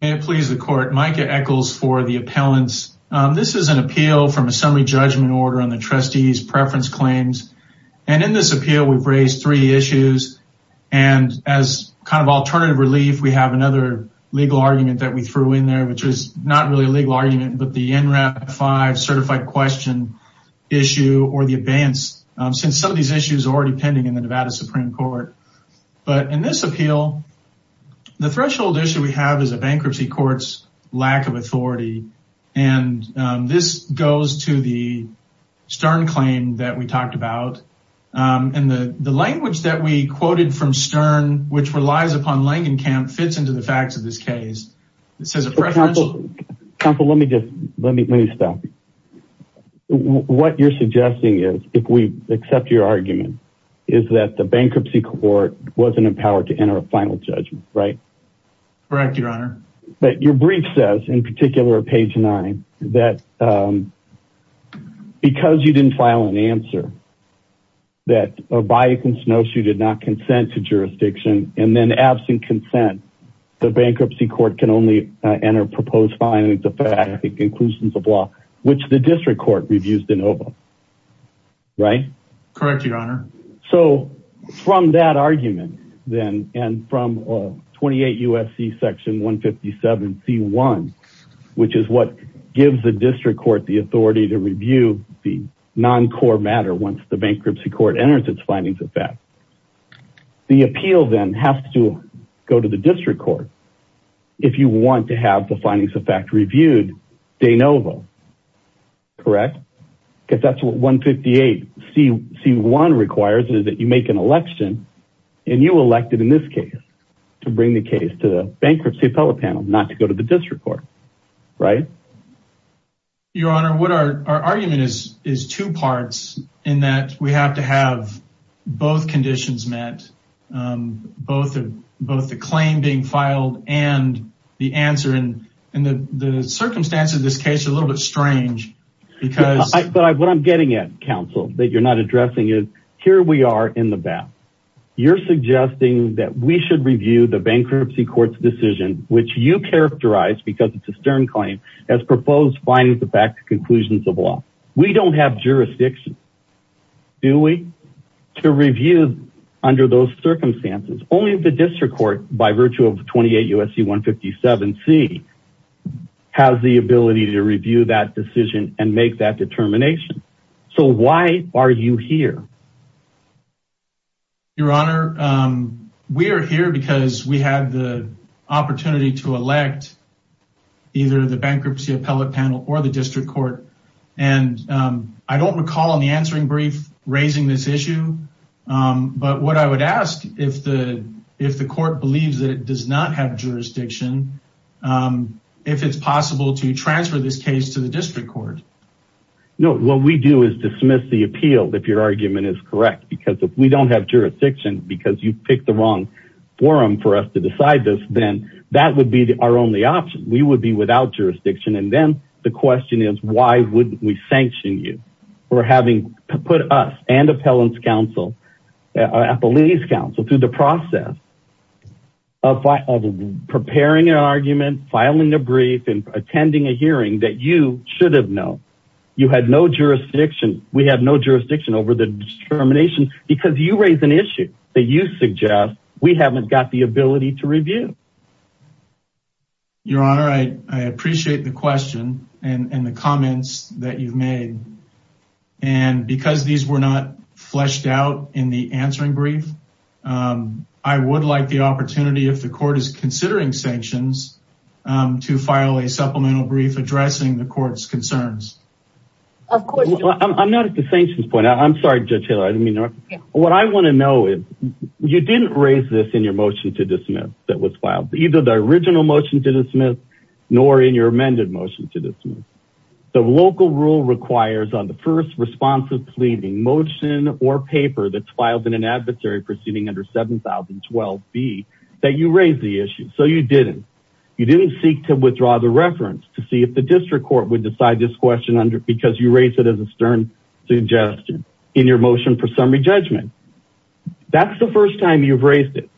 May it please the court, Micah Echols for the appellants. This is an appeal from a summary judgment order on the trustees preference claims and in this appeal we've raised three issues and as kind of alternative relief we have another legal argument that we threw in there which is not really a legal argument but the NRAP 5 certified question issue or the abeyance since some of these issues are already pending in the Nevada Supreme Court. But in this appeal the threshold issue we have is a bankruptcy courts lack of authority and this goes to the Stern claim that we talked about and the the language that we quoted from Stern which relies upon Langenkamp fits into the facts of this case. Counsel let me just let me stop. What you're suggesting is if we accept your argument is that the bankruptcy court wasn't empowered to enter a final judgment right? Correct your honor. But your brief says in particular page 9 that because you didn't file an answer that a bias and snowshoe did not consent to jurisdiction and then absent consent the bankruptcy court can only enter proposed findings of fact and conclusions of law which the district court reviews the NOVA right? Correct your honor. So from that argument then and from 28 UFC section 157 c1 which is what gives the district court the authority to review the non-core matter once the bankruptcy court enters its findings of fact. The appeal then has to go to the district court if you want to have the findings of fact reviewed de novo. Correct? Because that's what 158 c1 requires is that you make an election and you elected in this case to bring the case to the bankruptcy appellate panel not to go to the district court right? Your honor what our argument is is two parts in that we have to have both conditions met both of both the claim being filed and the answer and in the circumstance of this case a little bit strange because. But what I'm getting at that you're not addressing is here we are in the back you're suggesting that we should review the bankruptcy courts decision which you characterize because it's a stern claim as proposed findings of fact conclusions of law. We don't have jurisdiction do we? To review under those circumstances only the district court by virtue of 28 UFC 157 C has the ability to review that decision and make that determination. So why are you here? Your honor we are here because we have the opportunity to elect either the bankruptcy appellate panel or the district court and I don't recall on the answering brief raising this issue but what I would ask if the if the court believes that it does not have No what we do is dismiss the appeal if your argument is correct because if we don't have jurisdiction because you pick the wrong forum for us to decide this then that would be our only option. We would be without jurisdiction and then the question is why wouldn't we sanction you for having put us and Appellant's Council Appellate's Council through the process of preparing an argument filing a brief and attending a hearing that you should have known you had no jurisdiction we have no jurisdiction over the determination because you raise an issue that you suggest we haven't got the ability to review. Your honor I appreciate the question and the comments that you've made and because these were not fleshed out in the answering brief I would like the opportunity if the court is considering sanctions to file a supplemental brief addressing the court's concerns. Of course I'm not at the sanctions point I'm sorry judge Taylor I didn't mean to. What I want to know is you didn't raise this in your motion to dismiss that was filed either the original motion to dismiss nor in your amended motion to dismiss. The local rule requires on the first responsive pleading motion or paper that's filed in an adversary proceeding under 7012 B that you raise the issue so you didn't you didn't seek to withdraw the reference to see if the district court would decide this question under because you raised it as a stern suggestion in your motion for summary judgment. That's the first time you've raised it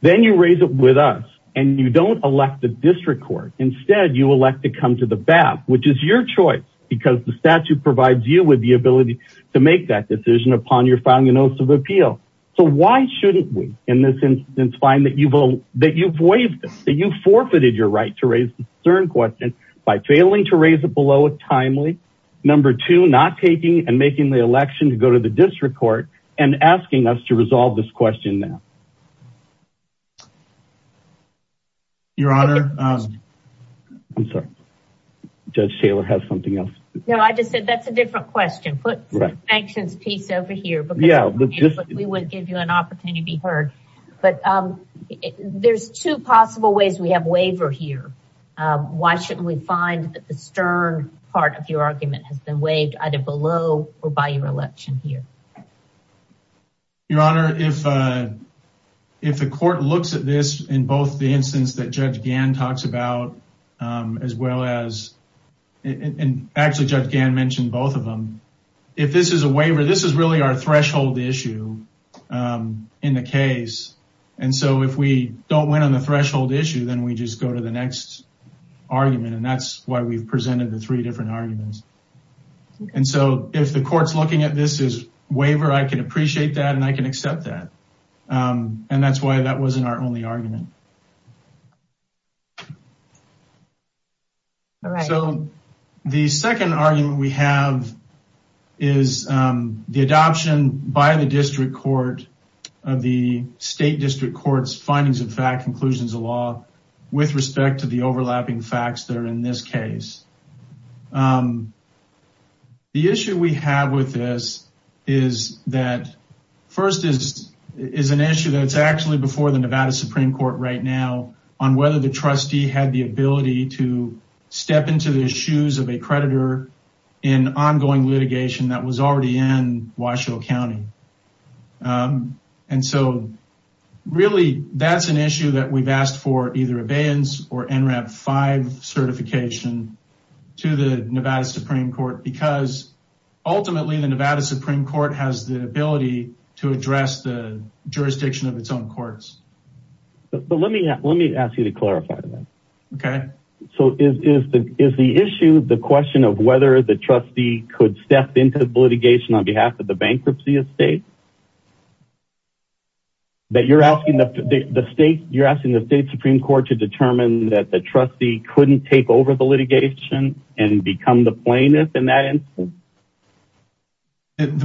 then you raise it with us and you don't elect the district court instead you elect to come to the BAP which is your choice because the statute provides you with the ability to make that decision upon you're filing a notice of appeal. So why shouldn't we in this instance find that you vote that you've waived that you forfeited your right to raise the stern question by failing to raise it below it timely. Number two not taking and making the election to go to the district court and asking us to resolve this question now. Your honor I'm sorry judge Taylor has something else. No I just said that's a different question put actions piece over here but yeah we would give you an opportunity to be heard but there's two possible ways we have waiver here why shouldn't we find that the stern part of your argument has been waived either below or by your election here. Your honor if if the court looks at this in both the instance that judge Gann talks about as well as and actually judge Gann mentioned both of them if this is a waiver this is really our threshold issue in the case and so if we don't win on the threshold issue then we just go to the next argument and that's why we've presented the three different arguments and so if the courts looking at this is waiver I can appreciate that and I can accept that and that's why that wasn't our only argument. So the second argument we have is the adoption by the district court of the state district courts findings of fact conclusions of law with respect to the overlapping facts that are in this case. The issue we have with this is that first is is an issue that's actually before the Nevada Supreme Court right now on whether the trustee had the ability to step into the shoes of a predator in ongoing litigation that was already in Washoe County and so really that's an issue that we've asked for either abeyance or NRAP 5 certification to the Nevada Supreme Court because ultimately the Nevada Supreme Court has the ability to address the jurisdiction of its own courts. But let me let me ask you to clarify that. Okay. So is the is the issue the question of whether the trustee could step into the litigation on behalf of the bankruptcy estate? That you're asking the state you're asking the state Supreme Court to determine that the trustee couldn't take over the litigation and become the plaintiff in that instance?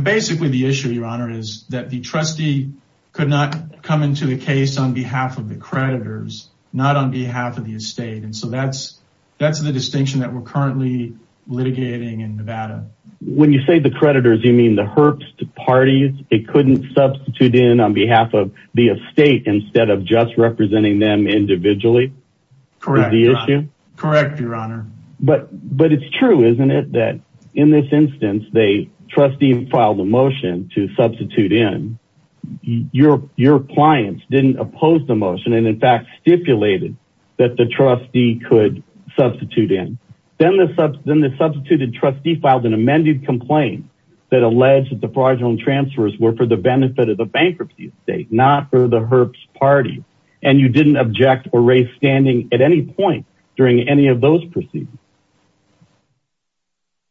Basically the issue your honor is that the trustee could not come into the case on behalf of the creditors not on behalf of the estate and so that's that's the distinction that we're currently litigating in Nevada. When you say the creditors you mean the herps to parties it couldn't substitute in on behalf of the estate instead of just representing them individually? Correct your honor. But but it's true isn't it that in this didn't oppose the motion and in fact stipulated that the trustee could substitute in then the sub then the substituted trustee filed an amended complaint that alleged that the fraudulent transfers were for the benefit of the bankruptcy estate not for the herps party and you didn't object or raise standing at any point during any of those proceedings?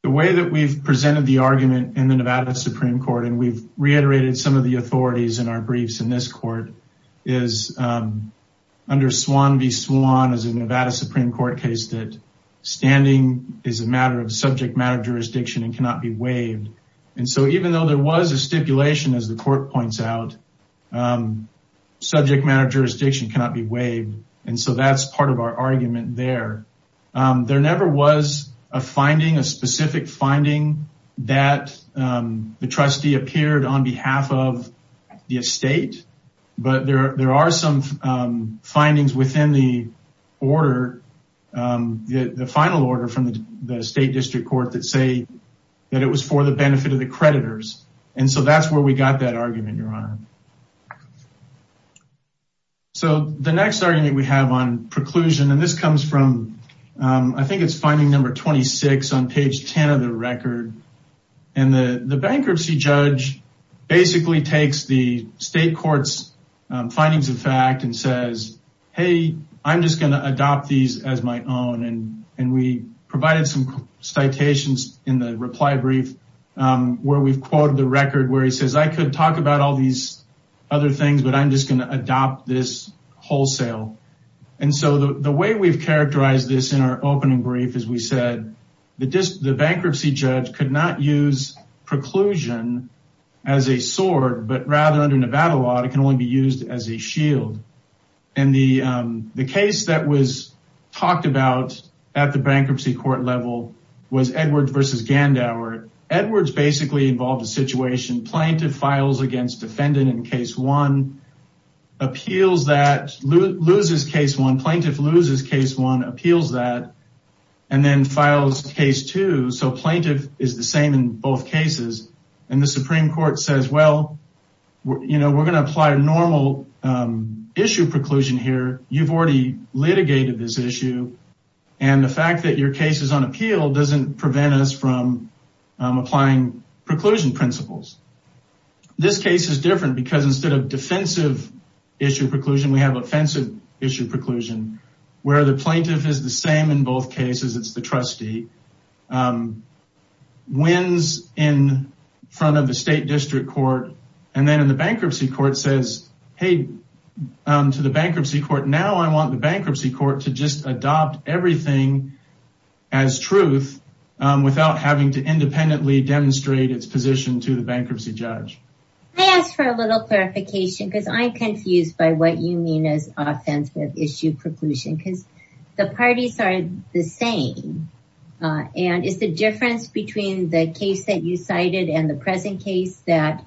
The way that we've presented the argument in the Nevada Supreme Court and we've reiterated some of the authorities in our briefs in this court is under Swan v. Swan as a Nevada Supreme Court case that standing is a matter of subject matter jurisdiction and cannot be waived and so even though there was a stipulation as the court points out subject matter jurisdiction cannot be waived and so that's part of our argument there. There never was a finding a specific finding that the trustee appeared on behalf of the estate but there there are some findings within the order the final order from the state district court that say that it was for the benefit of the creditors and so that's where we got that argument your honor. So the next argument we have on preclusion and this is the bankruptcy judge. The bankruptcy judge basically takes the state court's findings of fact and says hey I'm just going to adopt these as my own and and we provided some citations in the reply brief where we've quoted the record where he says I could talk about all these other things but I'm just going to adopt this wholesale and so the way we've characterized this in our opening brief is we said the bankruptcy judge could not use preclusion as a sword but rather under Nevada law it can only be used as a shield and the the case that was talked about at the bankruptcy court level was Edwards versus Gandauer. Edwards basically involved a situation plaintiff files against defendant in case one appeals that loses case one plaintiff loses case one appeals that and then files case two so plaintiff is the same in both cases and the Supreme Court says well you know we're going to apply a normal issue preclusion here you've already litigated this issue and the fact that your case is on appeal doesn't prevent us from applying preclusion principles. This case is instead of defensive issue preclusion we have offensive issue preclusion where the plaintiff is the same in both cases it's the trustee wins in front of the state district court and then in the bankruptcy court says hey to the bankruptcy court now I want the bankruptcy court to just adopt everything as truth without having to independently demonstrate its position to the bankruptcy judge. I asked for a little clarification because I'm confused by what you mean as offensive issue preclusion because the parties are the same and it's the difference between the case that you cited and the present case that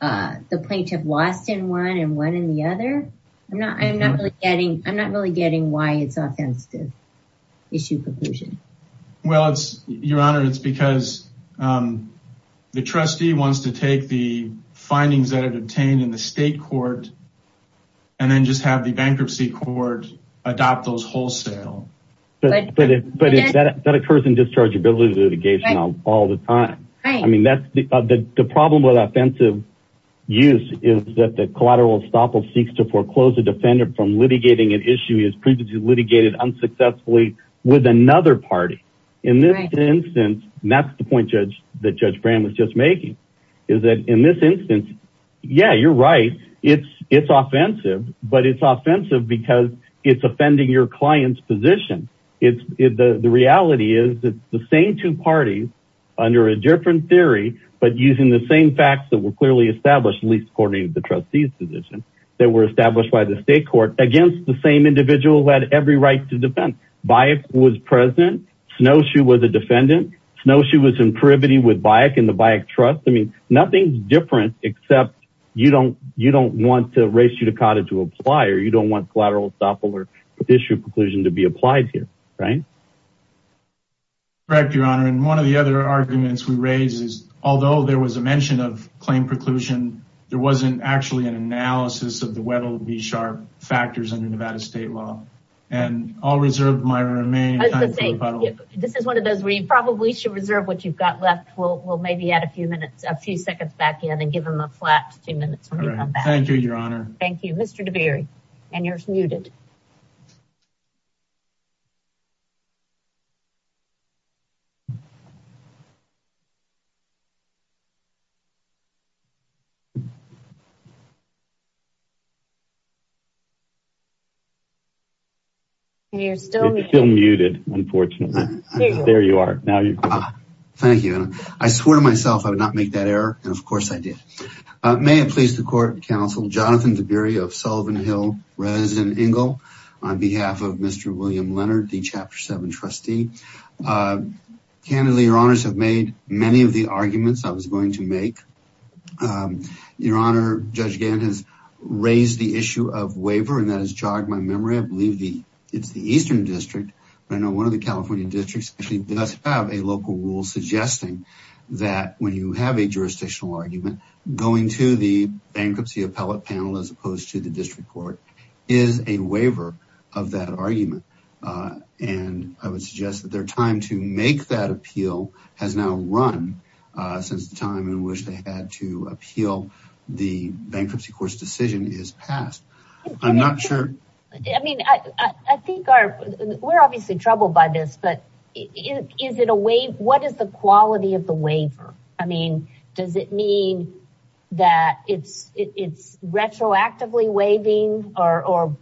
the plaintiff lost in one and one in the other I'm not I'm not really getting I'm not really getting why it's offensive issue preclusion. Well it's your honor it's because the trustee wants to take the findings that it obtained in the state court and then just have the bankruptcy court adopt those wholesale. But that occurs in dischargeability litigation all the time. I mean that's the problem with offensive use is that the collateral estoppel seeks to foreclose the defendant from litigating an issue he has previously litigated unsuccessfully with another party. In this instance and that's the point judge that Judge Bram was just making is that in this instance yeah you're right it's it's offensive but it's offensive because it's offending your client's position. The reality is that the same two parties under a different theory but using the same facts that were clearly established least according to the trustees position that were established by the state court against the same individual who had every right to defend. Bayek was present. Snowshoe was a defendant. Snowshoe was in privity with Bayek and the Bayek trust. I mean nothing's different except you don't you don't want to race you to cottage to apply or you don't want collateral estoppel or issue preclusion to be applied here right. Correct your honor and one of the other arguments we raise is although there was a mention of claim preclusion there wasn't actually an analysis of the Weddell v. Sharpe factors under Nevada state law and I'll reserve my remain. This is one of those where you probably should reserve what you've got left. We'll maybe add a few minutes a few seconds back in and give him a flat two minutes. Thank you your honor. Thank you Mr. Deberry and you're muted. You're still muted unfortunately. There you are. Thank you. I swear to myself I would not make that error and of course I did. May it please the court and counsel Jonathan Deberry of Sullivan Hill resident Ingle on behalf of Mr. William Leonard the chapter 7 trustee. Candidly your honors have made many of the arguments I was going to make. Your honor Judge Gantt has raised the issue of waiver and that has jogged my memory. I believe the it's the Eastern District but I know one of the California districts actually does have a local rule suggesting that when you have a jurisdictional argument going to the bankruptcy appellate panel as opposed to the district court is a waiver of that argument and I would suggest that their time to make that appeal has now run since the time we wish they had to appeal the bankruptcy court's decision is passed. I'm not sure I mean I think our we're obviously troubled by this but is it a way what is the quality of the waiver I mean does it mean that it's it's retroactively waiving or or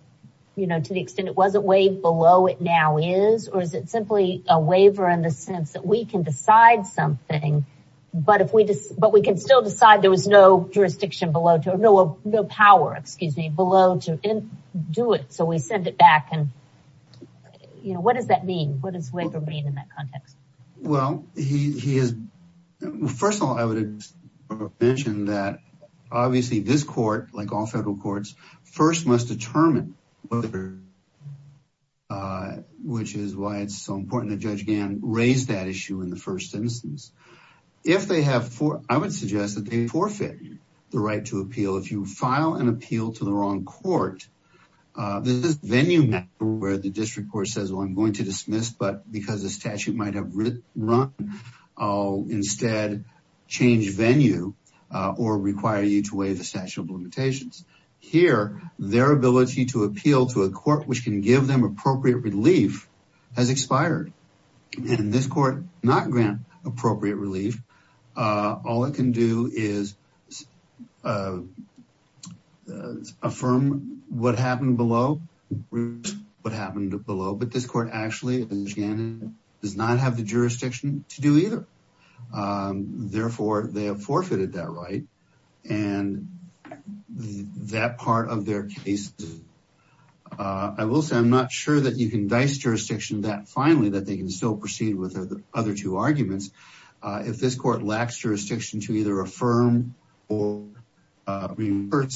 you know to the extent it wasn't waived below it now is or is it simply a waiver in the sense that we can decide something but if we just but we can still decide there was no jurisdiction below to know of no power excuse me below to do it so we send it back and you know what does that mean what is waiver mean in that context? Well he is first of all I would mention that obviously this court like all federal courts first must determine whether which is why it's so important that issue in the first instance. If they have for I would suggest that they forfeit the right to appeal if you file an appeal to the wrong court there's this venue matter where the district court says well I'm going to dismiss but because the statute might have run I'll instead change venue or require you to waive the statute of limitations. Here their ability to appeal to a court which can give them appropriate relief has expired and this court not grant appropriate relief all it can do is affirm what happened below what happened below but this court actually does not have the jurisdiction to do either therefore they have forfeited that right and that part of their case I will say I'm not sure that you can dice jurisdiction that finally that they can still proceed with other two arguments if this court lacks jurisdiction to either affirm or revert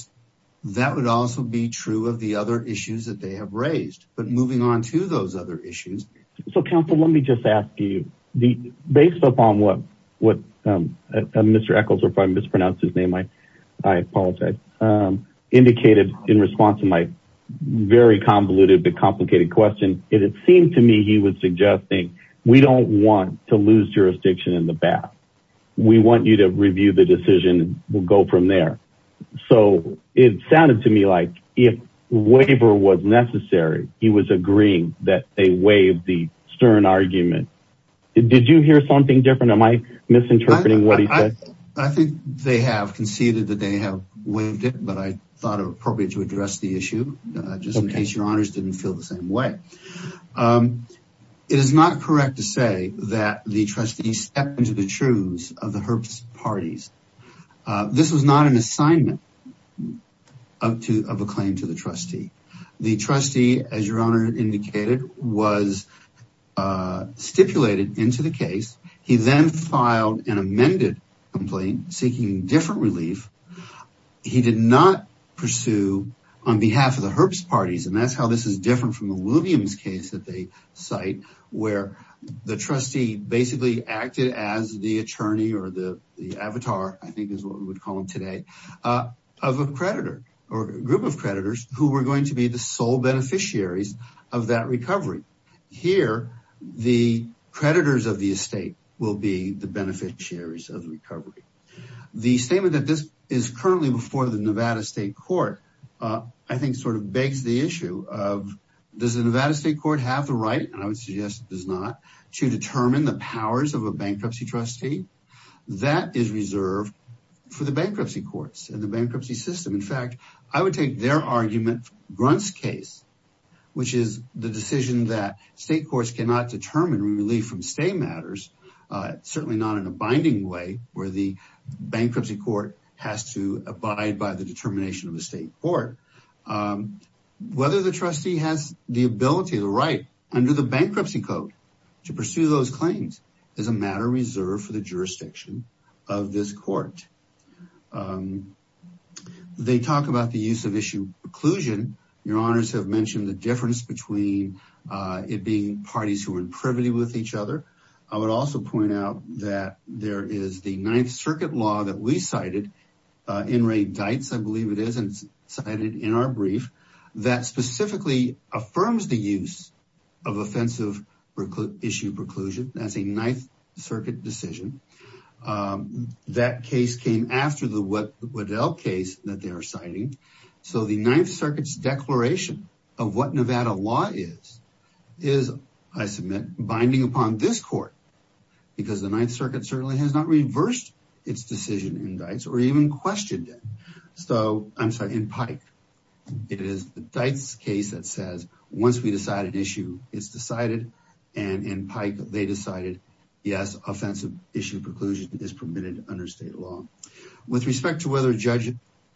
that would also be true of the other issues that they have raised but moving on to those other issues. So counsel let me just ask you based upon what what Mr. Eccles or if I mispronounce his name I I apologize indicated in response to my very convoluted but complicated question it seemed to me he was suggesting we don't want to lose jurisdiction in the back we want you to review the decision we'll go from there so it sounded to me like if waiver was necessary he was agreeing that they waive the Stern argument did you hear something different am I misinterpreting what he said? I think they have conceded that they have waived it but I thought it appropriate to address the issue just in case your honors didn't feel the same way it is not correct to say that the trustees step into the truths of the Herbst parties this was not an assignment of to of a claim to the trustee the trustee as your honor indicated was stipulated into the case he then filed an amended complaint seeking different relief he did not pursue on behalf of the Herbst parties and that's how this is different from the Williams case that they cite where the trustee basically acted as the attorney or the avatar I think is what we would call them today of a creditor or a group of creditors who were going to be the sole beneficiaries of that recovery here the creditors of the estate will be the beneficiaries of recovery the statement that this is currently before the Nevada State Court I think sort of begs the issue of does yes it does not to determine the powers of a bankruptcy trustee that is reserved for the bankruptcy courts and the bankruptcy system in fact I would take their argument grunts case which is the decision that state courts cannot determine relief from state matters certainly not in a binding way where the bankruptcy court has to abide by the determination of the state court whether the trustee has the ability the right under the bankruptcy code to pursue those claims is a matter reserved for the jurisdiction of this court they talk about the use of issue preclusion your honors have mentioned the difference between it being parties who are in privity with each other I would also point out that there is the Ninth Circuit law that we cited in Ray Deitz I believe it is and it's cited in our brief that specifically affirms the use of offensive issue preclusion that's a Ninth Circuit decision that case came after the Waddell case that they are citing so the Ninth Circuit's declaration of what Nevada law is is I submit binding upon this court because the Ninth Circuit certainly has not reversed its decision indicts or even questioned it so I'm sorry in Pike it is the dice case that says once we decide an issue it's decided and in Pike they decided yes offensive issue preclusion is permitted under state law with respect to whether judges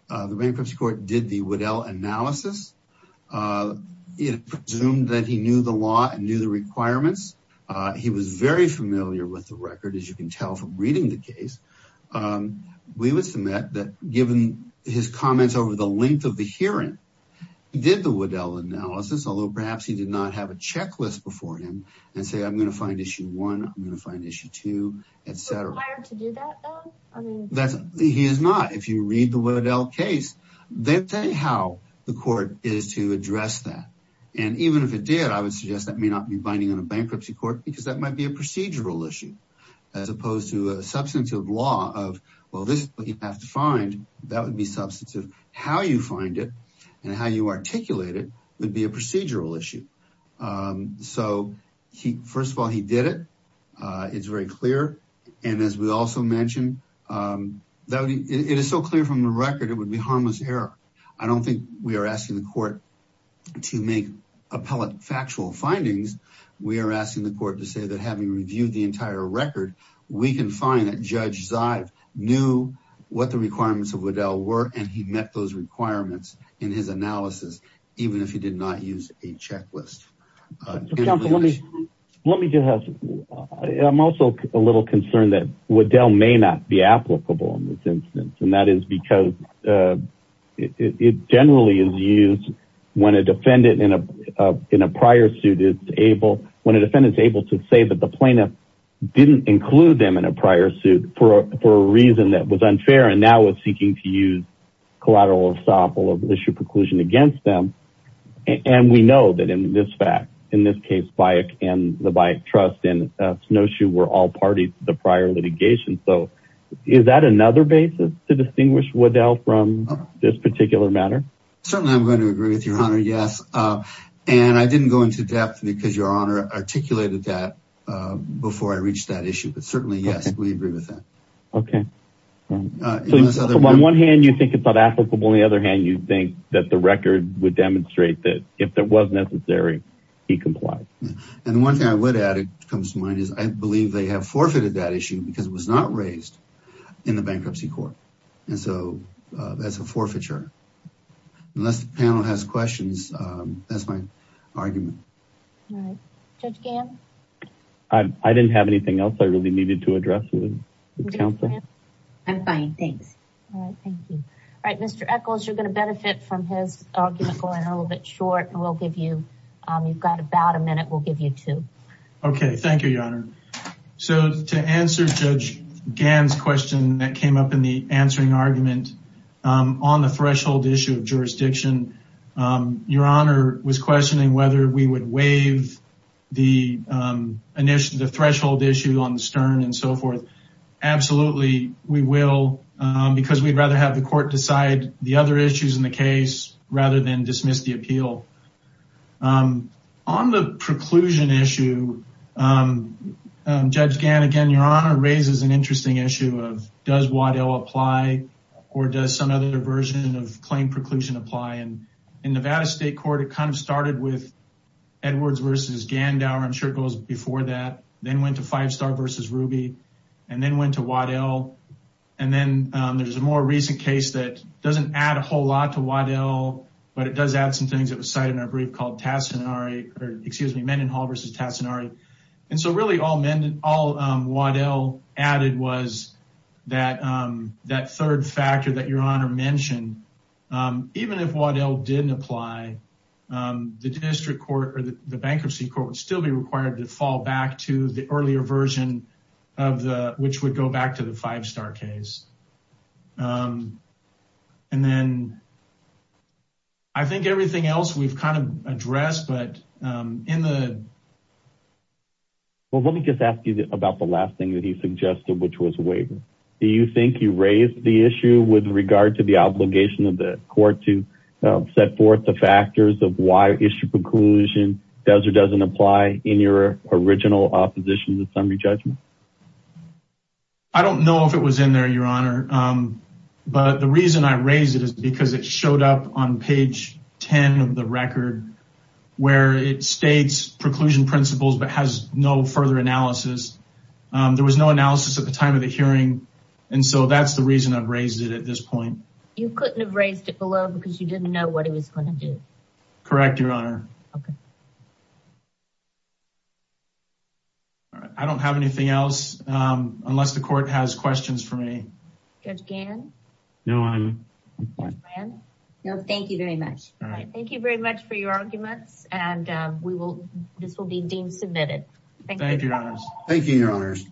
the bankruptcy court did the Waddell analysis it presumed that he knew the law and knew the requirements he was very familiar with the record as you can that that given his comments over the length of the hearing did the Waddell analysis although perhaps he did not have a checklist before him and say I'm gonna find issue one I'm gonna find issue two etc that's he is not if you read the Waddell case then say how the court is to address that and even if it did I would suggest that may not be binding on a bankruptcy court because that might be a procedural issue as opposed to a substantive law of well this you have to find that would be substantive how you find it and how you articulate it would be a procedural issue so he first of all he did it it's very clear and as we also mentioned that it is so clear from the record it would be harmless error I don't think we are asking the court to make appellate factual findings we are asking the court to say that having reviewed the entire record we can find that judge Zive knew what the requirements of Waddell were and he met those requirements in his analysis even if he did not use a checklist let me just have I'm also a little concerned that Waddell may not be applicable in this instance and that is because it generally is used when a defendant in a in a prior suit is able when a defendant is able to say that the didn't include them in a prior suit for a reason that was unfair and now it's seeking to use collateral or sample of issue preclusion against them and we know that in this fact in this case by a can the bike trust in snowshoe were all parties to the prior litigation so is that another basis to distinguish Waddell from this particular matter certainly I'm going to agree with your honor yes and I didn't go into depth because your honor articulated that before I reached that issue but certainly yes okay on one hand you think it's not applicable on the other hand you think that the record would demonstrate that if there was necessary he complied and one thing I would add it comes to mind is I believe they have forfeited that issue because it was not raised in the bankruptcy court and so that's a forfeiture unless the panel has questions that's my argument I didn't have anything else I really needed to address you counsel I'm fine thanks all right mr. Eccles you're gonna benefit from his argument going a little bit short and we'll give you you've got about a minute we'll give you two okay thank you your honor so to answer judge Gans question that came up in the answering argument on the threshold issue of jurisdiction your honor was questioning whether we would waive the initiative threshold issue on the stern and so forth absolutely we will because we'd rather have the court decide the other issues in the case rather than dismiss the appeal on the preclusion issue judge Gans again your honor raises an interesting issue of does Waddell apply or does some other version of claim preclusion apply and in Nevada State Court it kind of started with Edwards versus Gandower I'm sure goes before that then went to five-star versus Ruby and then went to Waddell and then there's a more recent case that doesn't add a whole lot to Waddell but it does add some things that was cited in our brief called Tassinari or excuse me Mendenhall versus Tassinari and so really all Waddell added was that that third factor that your honor mentioned even if Waddell didn't apply the district court or the bankruptcy court would still be required to fall back to the earlier version of the which would go back to the five-star case and then I think everything else we've kind of addressed but in the well let me just ask you about the last thing that he suggested which was waiver do you think you raised the issue with regard to the obligation of the court to set forth the factors of why issue preclusion does or doesn't apply in your original opposition to summary judgment I don't know if it was in there your honor but the reason I raised it is because it showed up on page 10 of the record where it states preclusion principles but has no further analysis there was no analysis at the time of the hearing and so that's the reason I've raised it at this point you couldn't have raised it below because you didn't know what it was going to do correct your honor okay I don't have anything else unless the court has questions for me again no I'm no thank you very much all right thank you very much for your arguments and we will this will be deemed submitted thank you thank you your honors